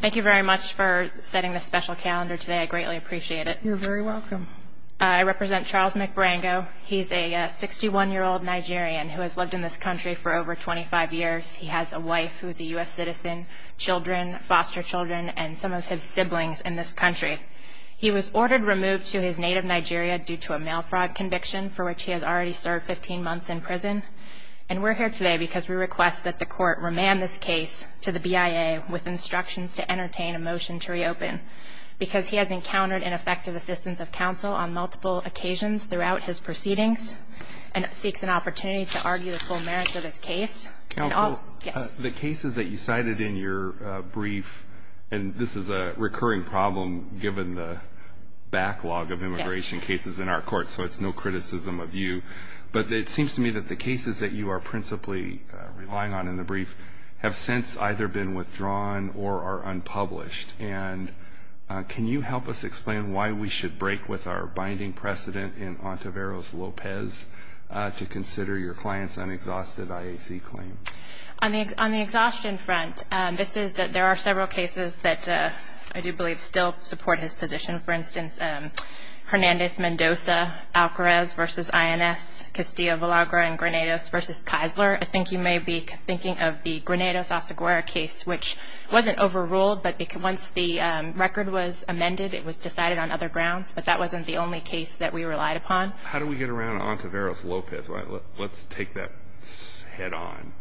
Thank you very much for setting this special calendar today. I greatly appreciate it. You're very welcome. I represent Charles McBarango. He's a 61-year-old Nigerian who has lived in this country for over 25 years. He has a wife who is a U.S. citizen, children, foster children, and some of his siblings in this country. He was ordered removed to his native Nigeria due to a mail fraud conviction for which he has already served 15 months in prison. And we're here today because we request that the court remand this case to the BIA with instructions to entertain a motion to reopen because he has encountered ineffective assistance of counsel on multiple occasions throughout his proceedings and seeks an opportunity to argue the full merits of his case. Counsel, the cases that you cited in your brief, and this is a recurring problem given the backlog of immigration cases in our court, so it's no criticism of you, but it seems to me that the cases that you are principally relying on in the brief have since either been withdrawn or are unpublished. And can you help us explain why we should break with our binding precedent in Ontiveros-Lopez to consider your client's unexhausted IAC claim? On the exhaustion front, this is that there are several cases that I do believe still support his position. For instance, Hernandez-Mendoza-Alcarez v. INS, Castillo-Villagra and Granados v. Kaisler. I think you may be thinking of the Granados-Asaguirre case, which wasn't overruled, but once the record was amended it was decided on other grounds, but that wasn't the only case that we relied upon. How do we get around Ontiveros-Lopez? Let's take that head on.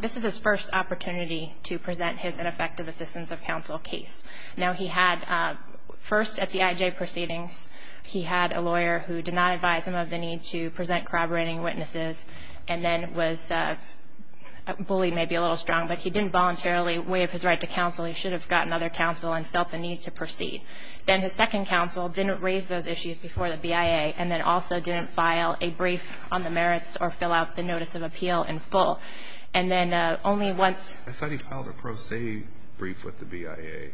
This is his first opportunity to present his ineffective assistance of counsel case. Now, he had first at the IJ proceedings, he had a lawyer who did not advise him of the need to present corroborating witnesses and then was bullied maybe a little strong, but he didn't voluntarily waive his right to counsel. He should have gotten other counsel and felt the need to proceed. Then the second counsel didn't raise those issues before the BIA and then also didn't file a brief on the merits or fill out the notice of appeal in full. I thought he filed a pro se brief with the BIA.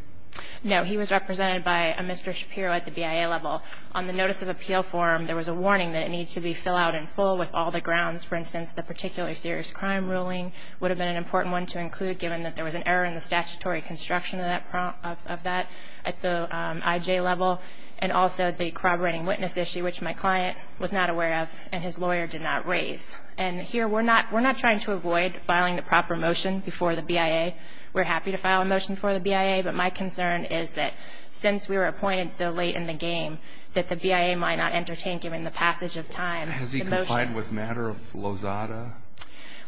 No, he was represented by a Mr. Shapiro at the BIA level. On the notice of appeal form there was a warning that it needs to be filled out in full with all the grounds. For instance, the particular serious crime ruling would have been an important one to include given that there was an error in the statutory construction of that at the IJ level and also the corroborating witness issue, which my client was not aware of and his lawyer did not raise. And here we're not trying to avoid filing the proper motion before the BIA. We're happy to file a motion for the BIA, but my concern is that since we were appointed so late in the game that the BIA might not entertain given the passage of time. Has he complied with matter of Lozada?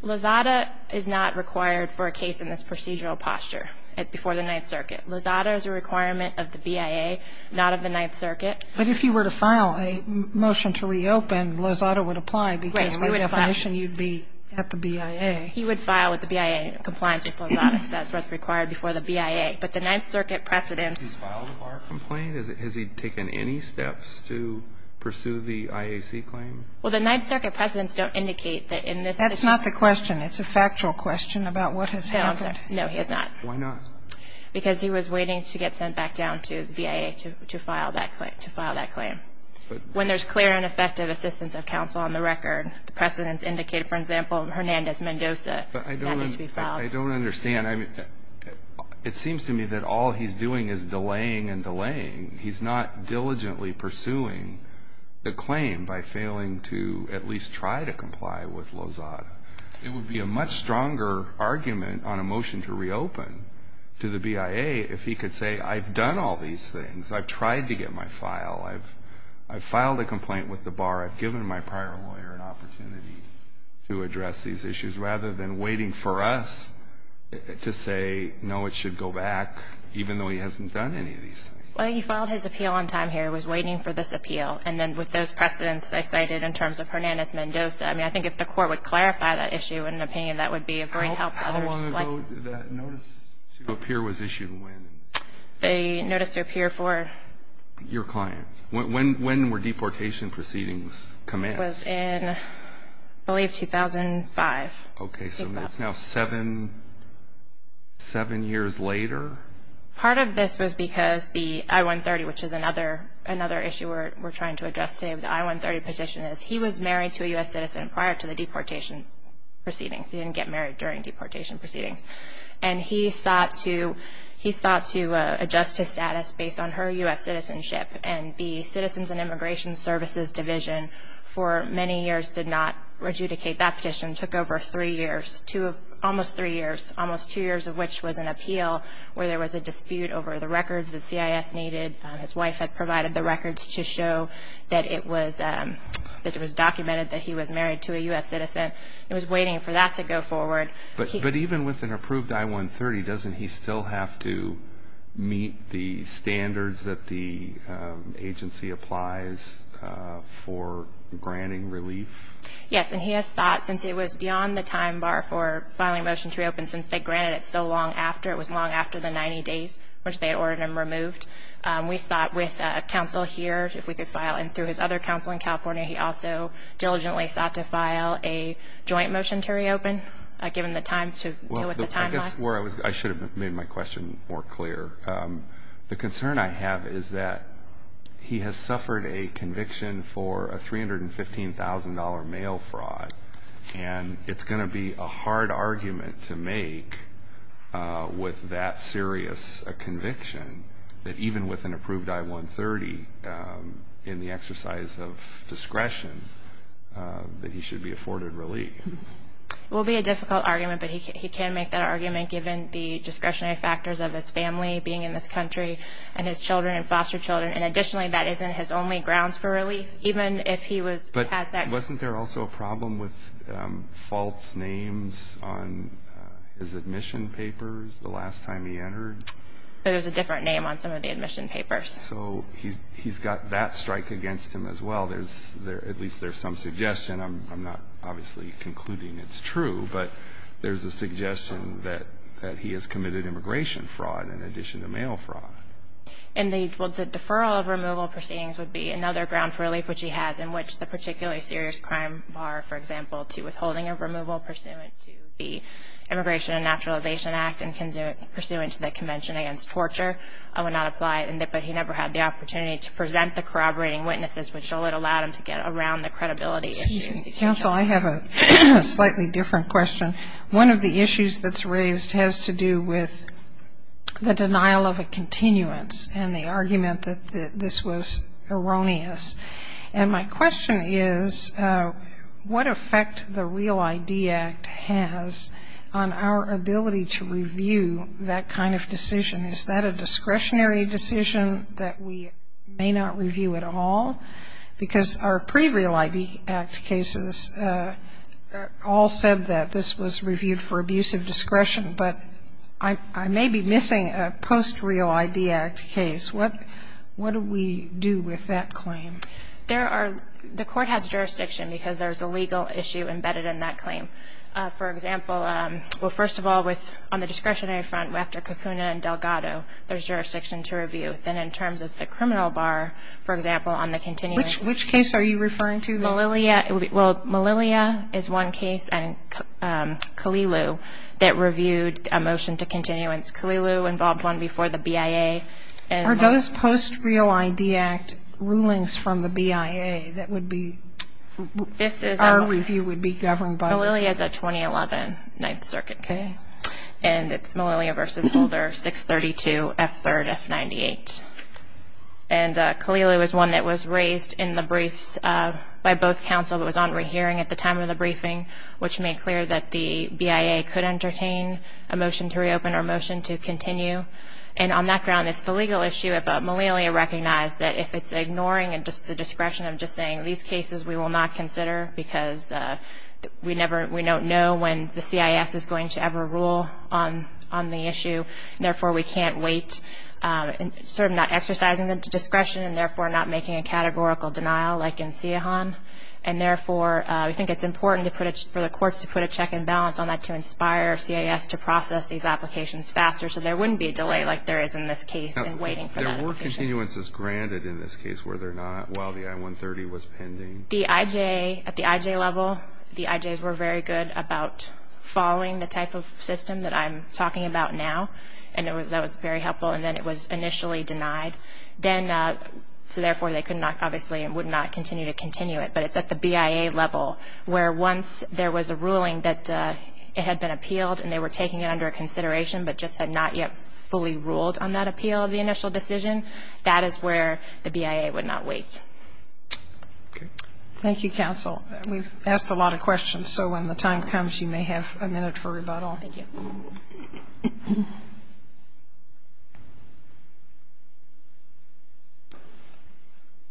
Lozada is not required for a case in this procedural posture before the Ninth Circuit. Lozada is a requirement of the BIA, not of the Ninth Circuit. But if you were to file a motion to reopen, Lozada would apply because by definition you'd be at the BIA. He would file with the BIA in compliance with Lozada, because that's what's required before the BIA. But the Ninth Circuit precedents Has he filed a bar complaint? Has he taken any steps to pursue the IAC claim? Well, the Ninth Circuit precedents don't indicate that in this situation That's not the question. It's a factual question about what has happened. No, I'm sorry. No, he has not. Why not? Because he was waiting to get sent back down to the BIA to file that claim. When there's clear and effective assistance of counsel on the record, the precedents indicate, for example, Hernandez-Mendoza. That needs to be filed. But I don't understand. I mean, it seems to me that all he's doing is delaying and delaying. He's not diligently pursuing the claim by failing to at least try to comply with Lozada. It would be a much stronger argument on a motion to reopen to the BIA if he could say, I've done all these things. I've tried to get my file. I've filed a complaint with the bar. I've given my prior lawyer an opportunity to address these issues, rather than waiting for us to say, no, it should go back, even though he hasn't done any of these things. Well, he filed his appeal on time here. He was waiting for this appeal. And then with those precedents I cited in terms of Hernandez-Mendoza, I mean, I think if the Court would clarify that issue in an opinion, that would be a great help to others. How long ago that notice to appear was issued and when? The notice to appear for? Your client. When were deportation proceedings commenced? It was in, I believe, 2005. Okay, so it's now seven years later? Part of this was because the I-130, which is another issue we're trying to address today with the I-130 petition, is he was married to a U.S. citizen prior to the deportation proceedings. He didn't get married during deportation proceedings. And he sought to adjust his status based on her U.S. citizenship. And the Citizens and Immigration Services Division for many years did not adjudicate that petition. It took over three years, almost three years, almost two years of which was an appeal where there was a dispute over the records that CIS needed. His wife had provided the records to show that it was documented that he was married to a U.S. citizen. He was waiting for that to go forward. But even with an approved I-130, doesn't he still have to meet the standards that the agency applies for granting relief? Yes, and he has sought, since it was beyond the time bar for filing a motion to reopen, since they granted it so long after, it was long after the 90 days, which they had ordered him removed. We sought with a counsel here if we could file, and through his other counsel in California, he also diligently sought to file a joint motion to reopen, given the time to deal with the timeline. I should have made my question more clear. The concern I have is that he has suffered a conviction for a $315,000 mail fraud, and it's going to be a hard argument to make with that serious a conviction, that even with an approved I-130, in the exercise of discretion, that he should be afforded relief. It will be a difficult argument, but he can make that argument, given the discretionary factors of his family being in this country and his children and foster children. And additionally, that isn't his only grounds for relief, even if he has that. But wasn't there also a problem with false names on his admission papers the last time he entered? There's a different name on some of the admission papers. So he's got that strike against him as well. At least there's some suggestion. I'm not obviously concluding it's true, but there's a suggestion that he has committed immigration fraud in addition to mail fraud. And the deferral of removal proceedings would be another ground for relief, which he has in which the particularly serious crime bar, for example, to withholding of removal pursuant to the Immigration and Naturalization Act and pursuant to the Convention Against Torture would not apply. But he never had the opportunity to present the corroborating witnesses, which allowed him to get around the credibility issues. Counsel, I have a slightly different question. One of the issues that's raised has to do with the denial of a continuance and the argument that this was erroneous. And my question is what effect the REAL ID Act has on our ability to review that kind of decision? Is that a discretionary decision that we may not review at all? Because our pre-REAL ID Act cases all said that this was reviewed for abuse of discretion, but I may be missing a post-REAL ID Act case. What do we do with that claim? There are the court has jurisdiction because there's a legal issue embedded in that claim. For example, well, first of all, with on the discretionary front, after Kakuna and Delgado, there's jurisdiction to review. Then in terms of the criminal bar, for example, on the continuance. Which case are you referring to? Malilia. Well, Malilia is one case, and Kalilu that reviewed a motion to continuance. Kalilu involved one before the BIA. Are those post-REAL ID Act rulings from the BIA that our review would be governed by? Malilia is a 2011 Ninth Circuit case, and it's Malilia v. Holder, 632 F3rd F98. And Kalilu is one that was raised in the briefs by both counsel. It was on re-hearing at the time of the briefing, which made clear that the BIA could entertain a motion to reopen or a motion to continue. And on that ground, it's the legal issue. Malilia recognized that if it's ignoring the discretion of just saying, these cases we will not consider because we don't know when the CIS is going to ever rule on the issue. Therefore, we can't wait, sort of not exercising the discretion and therefore not making a categorical denial like in Sihan. And therefore, we think it's important for the courts to put a check and balance on that to inspire CIS to process these applications faster so there wouldn't be a delay like there is in this case in waiting for that application. There were continuances granted in this case, were there not, while the I-130 was pending? The IJ, at the IJ level, the IJs were very good about following the type of system that I'm talking about now, and that was very helpful. And then it was initially denied. So therefore, they could not obviously and would not continue to continue it. But it's at the BIA level where once there was a ruling that it had been appealed and they were taking it under consideration but just had not yet fully ruled on that appeal of the initial decision, that is where the BIA would not wait. Okay. Thank you, counsel. We've asked a lot of questions, so when the time comes, you may have a minute for rebuttal. Thank you.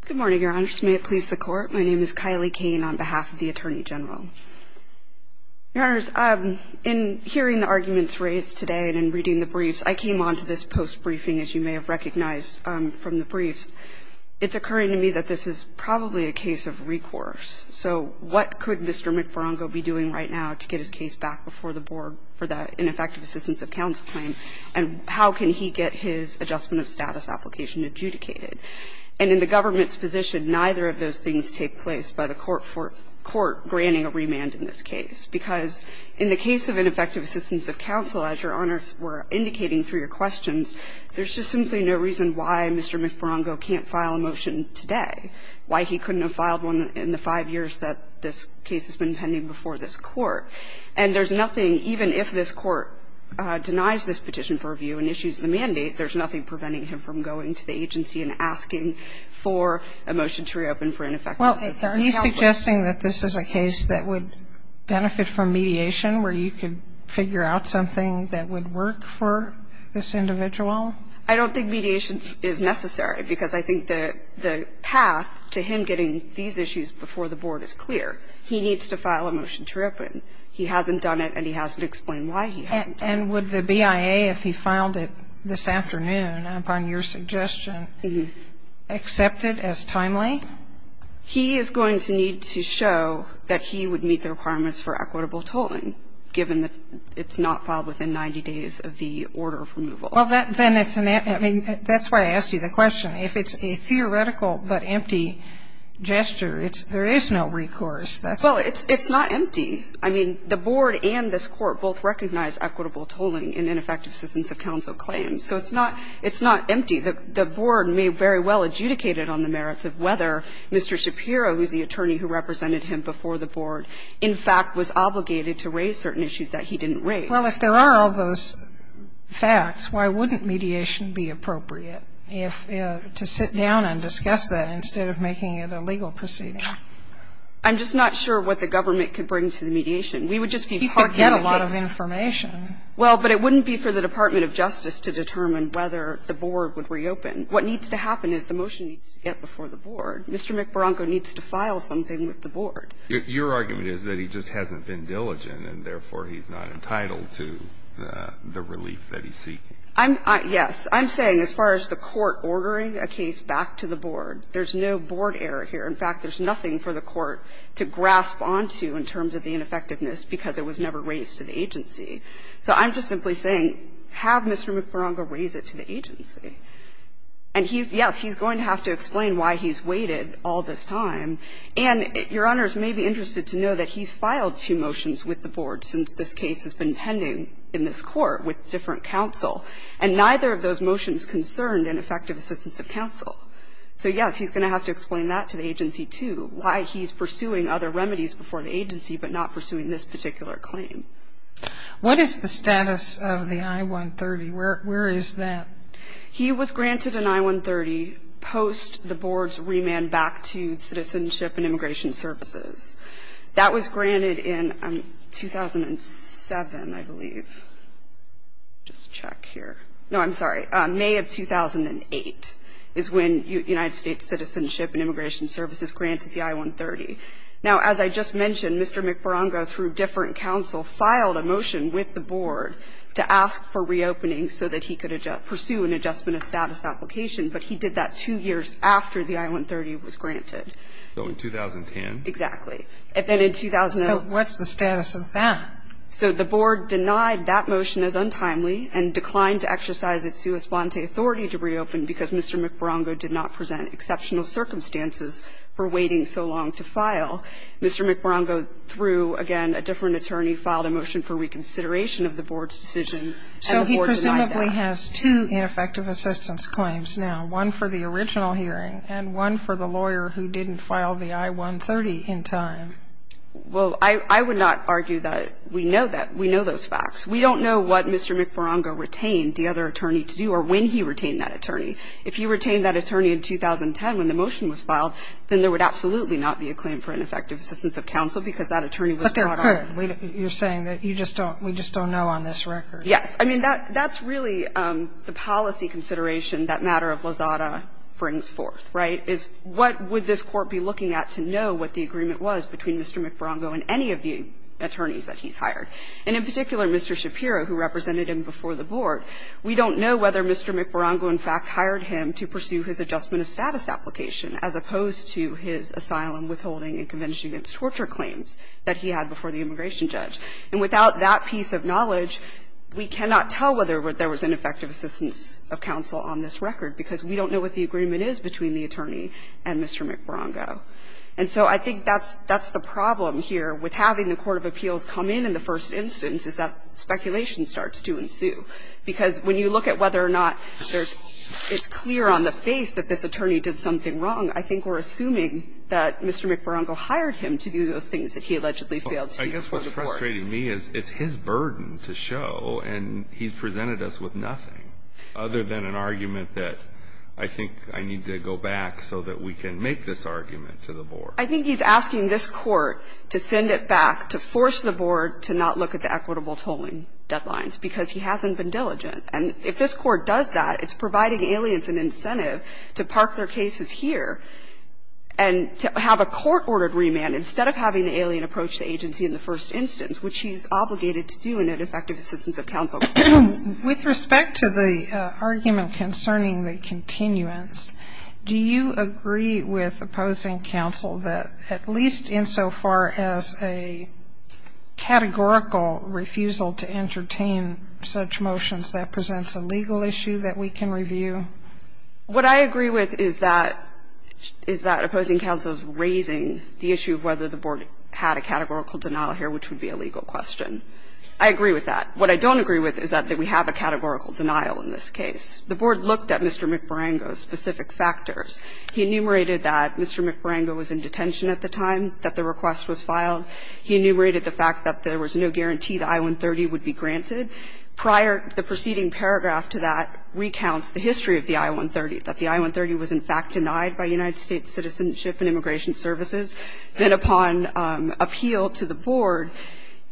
Good morning, Your Honors. May it please the Court. My name is Kylie Kane on behalf of the Attorney General. Your Honors, in hearing the arguments raised today and in reading the briefs, I came on to this post-briefing, as you may have recognized from the briefs. It's occurring to me that this is probably a case of recourse. So what could Mr. McFarlando be doing right now to get his case back before the board for the ineffective assistance of counsel claim, and how can he get his adjustment of status application adjudicated? And in the government's position, neither of those things take place. I think the question is, why is there no reason for Mr. McFarlando to file a petition for review, and why is there no reason for the court granting a remand in this case? Because in the case of ineffective assistance of counsel, as Your Honors were indicating through your questions, there's just simply no reason why Mr. McFarlando can't file a motion today, why he couldn't have filed one in the 5 years that this case has been pending before this Court. And there's nothing, even if this Court denies this petition for review and issues the mandate, there's nothing preventing him from going to the agency and asking for a motion to reopen for ineffective assistance of counsel. Well, are you suggesting that this is a case that would benefit from mediation, where you could figure out something that would work for this individual? I don't think mediation is necessary, because I think that the path to him getting these issues before the Board is clear. He needs to file a motion to reopen. He hasn't done it, and he hasn't explained why he hasn't done it. And would the BIA, if he filed it this afternoon, upon your suggestion, accept it as timely? He is going to need to show that he would meet the requirements for equitable tolling, given that it's not filed within 90 days of the order of removal. Well, then it's an empty – I mean, that's why I asked you the question. If it's a theoretical but empty gesture, there is no recourse. Well, it's not empty. I mean, the Board and this Court both recognize equitable tolling in ineffective assistance of counsel claims. So it's not empty. The Board may very well adjudicate it on the merits of whether Mr. Shapiro, who is the attorney who represented him before the Board, in fact was obligated to raise certain issues that he didn't raise. Well, if there are all those facts, why wouldn't mediation be appropriate if – to sit down and discuss that instead of making it a legal proceeding? I'm just not sure what the government could bring to the mediation. We would just be part of the case. He could get a lot of information. Well, but it wouldn't be for the Department of Justice to determine whether the Board would reopen. What needs to happen is the motion needs to get before the Board. Mr. McBronco needs to file something with the Board. Your argument is that he just hasn't been diligent and, therefore, he's not entitled to the relief that he's seeking. I'm – yes. I'm saying as far as the Court ordering a case back to the Board, there's no Board error here. In fact, there's nothing for the Court to grasp onto in terms of the ineffectiveness because it was never raised to the agency. So I'm just simply saying have Mr. McBronco raise it to the agency. And he's – yes, he's going to have to explain why he's waited all this time. And, Your Honors, you may be interested to know that he's filed two motions with the Board since this case has been pending in this Court with different counsel. And neither of those motions concerned ineffective assistance of counsel. So, yes, he's going to have to explain that to the agency, too, why he's pursuing other remedies before the agency but not pursuing this particular claim. What is the status of the I-130? Where is that? He was granted an I-130 post the Board's remand back to Citizenship and Immigration Services. That was granted in 2007, I believe. Just check here. No, I'm sorry. May of 2008 is when United States Citizenship and Immigration Services granted the I-130. Now, as I just mentioned, Mr. McBronco, through different counsel, filed a motion with the Board to ask for reopening so that he could pursue an adjustment of status application. But he did that two years after the I-130 was granted. So in 2010? Exactly. And then in 2009. So what's the status of that? So the Board denied that motion as untimely and declined to exercise its sua sponte authority to reopen because Mr. McBronco did not present exceptional circumstances for waiting so long to file. Mr. McBronco, through, again, a different attorney, filed a motion for reconsideration of the Board's decision, and the Board denied that. So he presumably has two ineffective assistance claims now, one for the original hearing and one for the lawyer who didn't file the I-130 in time. Well, I would not argue that we know that. We know those facts. We don't know what Mr. McBronco retained the other attorney to do or when he retained that attorney. If he retained that attorney in 2010 when the motion was filed, then there would absolutely not be a claim for ineffective assistance of counsel because that attorney was brought on. But there could. You're saying that you just don't we just don't know on this record. Yes. I mean, that's really the policy consideration that matter of Lozada brings forth, right, is what would this Court be looking at to know what the agreement was between Mr. McBronco and any of the attorneys that he's hired. And in particular, Mr. Shapiro, who represented him before the Board, we don't know whether Mr. McBronco in fact hired him to pursue his adjustment of status application as opposed to his asylum withholding and convention against torture claims that he had before the immigration judge. And without that piece of knowledge, we cannot tell whether there was ineffective assistance of counsel on this record, because we don't know what the agreement is between the attorney and Mr. McBronco. And so I think that's the problem here with having the court of appeals come in in the first instance is that speculation starts to ensue, because when you look at whether or not there's – it's clear on the face that this attorney did something wrong, I think we're assuming that Mr. McBronco hired him to do those things that he allegedly failed to do before the Board. I guess what's frustrating me is it's his burden to show, and he's presented us with nothing other than an argument that I think I need to go back so that we can make this argument to the Board. I think he's asking this Court to send it back, to force the Board to not look at the equitable tolling deadlines, because he hasn't been diligent. And if this Court does that, it's providing aliens an incentive to park their cases here and to have a court-ordered remand instead of having the alien approach the agency in the first instance, which he's obligated to do in an effective assistance of counsel. Sotomayor With respect to the argument concerning the continuance, do you agree with opposing counsel that at least insofar as a categorical refusal to entertain such motions, that presents a legal issue that we can review? What I agree with is that opposing counsel is raising the issue of whether the Board had a categorical denial here, which would be a legal question. I agree with that. What I don't agree with is that we have a categorical denial in this case. The Board looked at Mr. McBronco's specific factors. He enumerated that Mr. McBronco was in detention at the time that the request was filed. He enumerated the fact that there was no guarantee that I-130 would be granted. The preceding paragraph to that recounts the history of the I-130, that the I-130 was in fact denied by United States Citizenship and Immigration Services. Then upon appeal to the Board,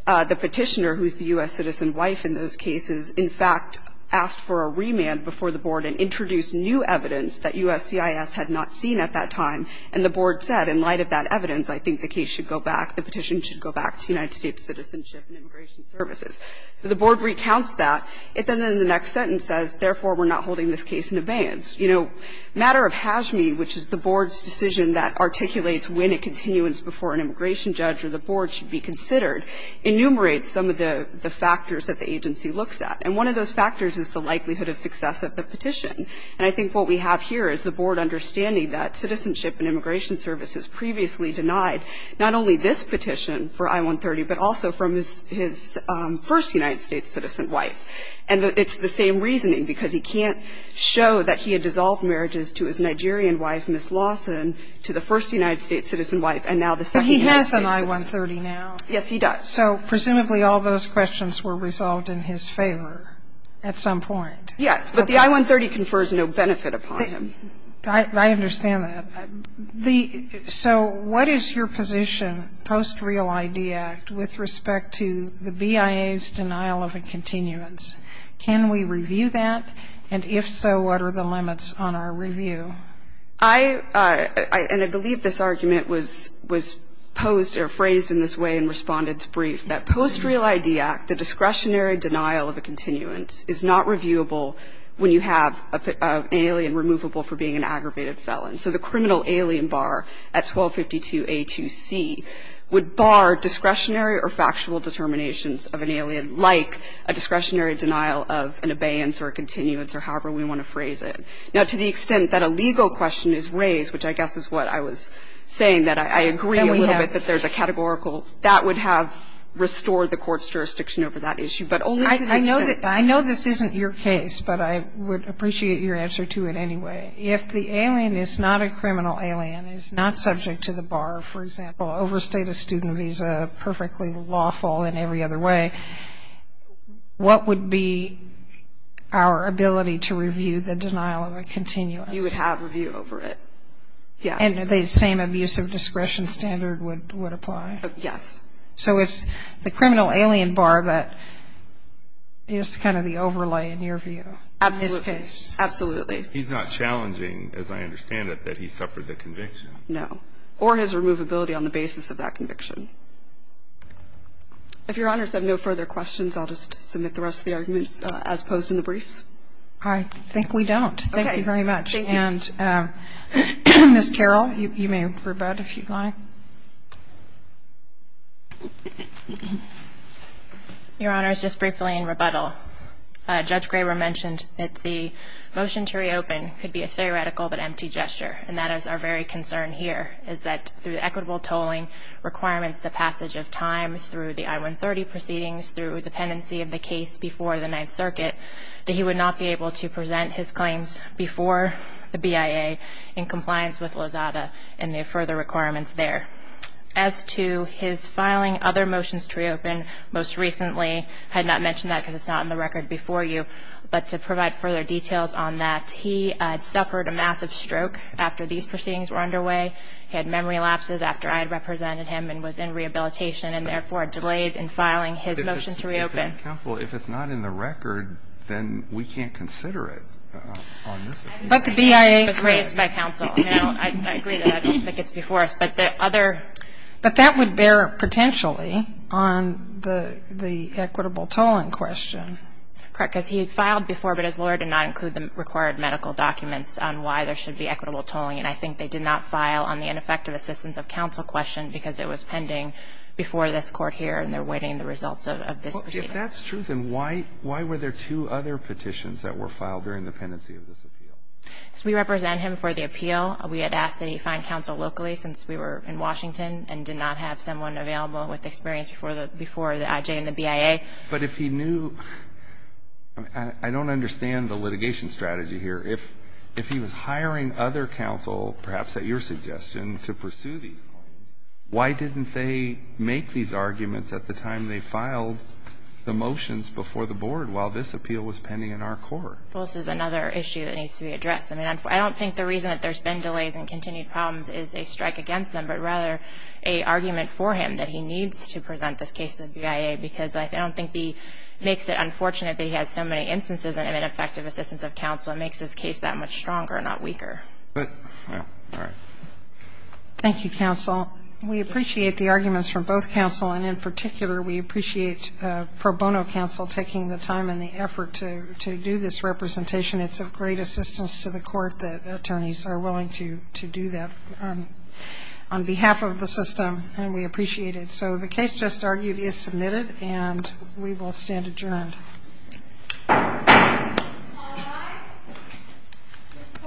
the Petitioner, who is the U.S. citizen wife in those cases, in fact asked for a remand before the Board and introduced new evidence that USCIS had not seen at that time, and the Board said, in light of that evidence, I think the case should go back, the petition should go back to United States Citizenship and Immigration Services. So the Board recounts that. It then in the next sentence says, therefore, we're not holding this case in abeyance. You know, matter of HAJME, which is the Board's decision that articulates when a continuance before an immigration judge or the Board should be considered, enumerates some of the factors that the agency looks at. And one of those factors is the likelihood of success of the petition. And I think what we have here is the Board understanding that Citizenship and Immigration Services previously denied not only this petition for I-130, but also from his first United States citizen wife. And it's the same reasoning, because he can't show that he had dissolved marriages to his Nigerian wife, Ms. Lawson, to the first United States citizen wife, and now the second United States citizen wife. Kagan. But he has an I-130 now. Yes, he does. So presumably all those questions were resolved in his favor at some point. Yes. But the I-130 confers no benefit upon him. I understand that. So what is your position, post-real ID Act, with respect to the BIA's denial of a continuance? Can we review that? And if so, what are the limits on our review? I believe this argument was posed or phrased in this way and responded to brief, that post-real ID Act, the discretionary denial of a continuance, is not reviewable when you have an alien removable for being an aggravated felon. So the criminal alien bar at 1252A2C would bar discretionary or factual determinations of an alien, like a discretionary denial of an abeyance or a continuance, or however we want to phrase it. Now, to the extent that a legal question is raised, which I guess is what I was saying, that I agree a little bit that there's a categorical, that would have restored the Court's jurisdiction over that issue. But only to the extent. I know this isn't your case, but I would appreciate your answer to it anyway. If the alien is not a criminal alien, is not subject to the bar, for example, overstated student visa, perfectly lawful in every other way, what would be our ability to review the denial of a continuance? You would have review over it, yes. And the same abuse of discretion standard would apply? Yes. So it's the criminal alien bar that is kind of the overlay in your view in this case? Absolutely. He's not challenging, as I understand it, that he suffered the conviction? No. Or his removability on the basis of that conviction. If Your Honor has no further questions, I'll just submit the rest of the arguments as posed in the briefs. I think we don't. Okay. Thank you very much. Thank you. And Ms. Carroll, you may rebut if you'd like. Your Honor, just briefly in rebuttal. Judge Graber mentioned that the motion to reopen could be a theoretical but empty gesture, and that is our very concern here, is that through equitable tolling requirements, the passage of time, through the I-130 proceedings, through the pendency of the case before the Ninth Circuit, that he would not be able to present his claims before the BIA in compliance with Lozada and the further requirements there. As to his filing other motions to reopen, most recently had not mentioned that because it's not in the record before you. But to provide further details on that, he suffered a massive stroke after these proceedings were underway. He had memory lapses after I had represented him and was in rehabilitation and, therefore, delayed in filing his motion to reopen. Counsel, if it's not in the record, then we can't consider it on this. But the BIA was raised by counsel. I agree that I don't think it's before us. But that would bear potentially on the equitable tolling question. Correct, because he had filed before, but his lawyer did not include the required medical documents on why there should be equitable tolling. And I think they did not file on the ineffective assistance of counsel question because it was pending before this Court here, and they're awaiting the results of this proceeding. If that's true, then why were there two other petitions that were filed during the pendency of this appeal? Because we represent him for the appeal. We had asked that he find counsel locally since we were in Washington and did not have someone available with experience before the IJ and the BIA. But if he knew – I don't understand the litigation strategy here. If he was hiring other counsel, perhaps at your suggestion, to pursue these claims, why didn't they make these arguments at the time they filed the motions before the Board while this appeal was pending in our court? Well, this is another issue that needs to be addressed. I mean, I don't think the reason that there's been delays and continued problems is a strike against them, but rather a argument for him that he needs to present this case to the BIA, because I don't think it makes it unfortunate that he has so many instances of ineffective assistance of counsel. It makes this case that much stronger, not weaker. All right. Thank you, counsel. We appreciate the arguments from both counsel, and in particular we appreciate Pro Bono counsel taking the time and the effort to do this representation. It's of great assistance to the court that attorneys are willing to do that on behalf of the system, and we appreciate it. So the case just argued is submitted, and we will stand adjourned. All rise.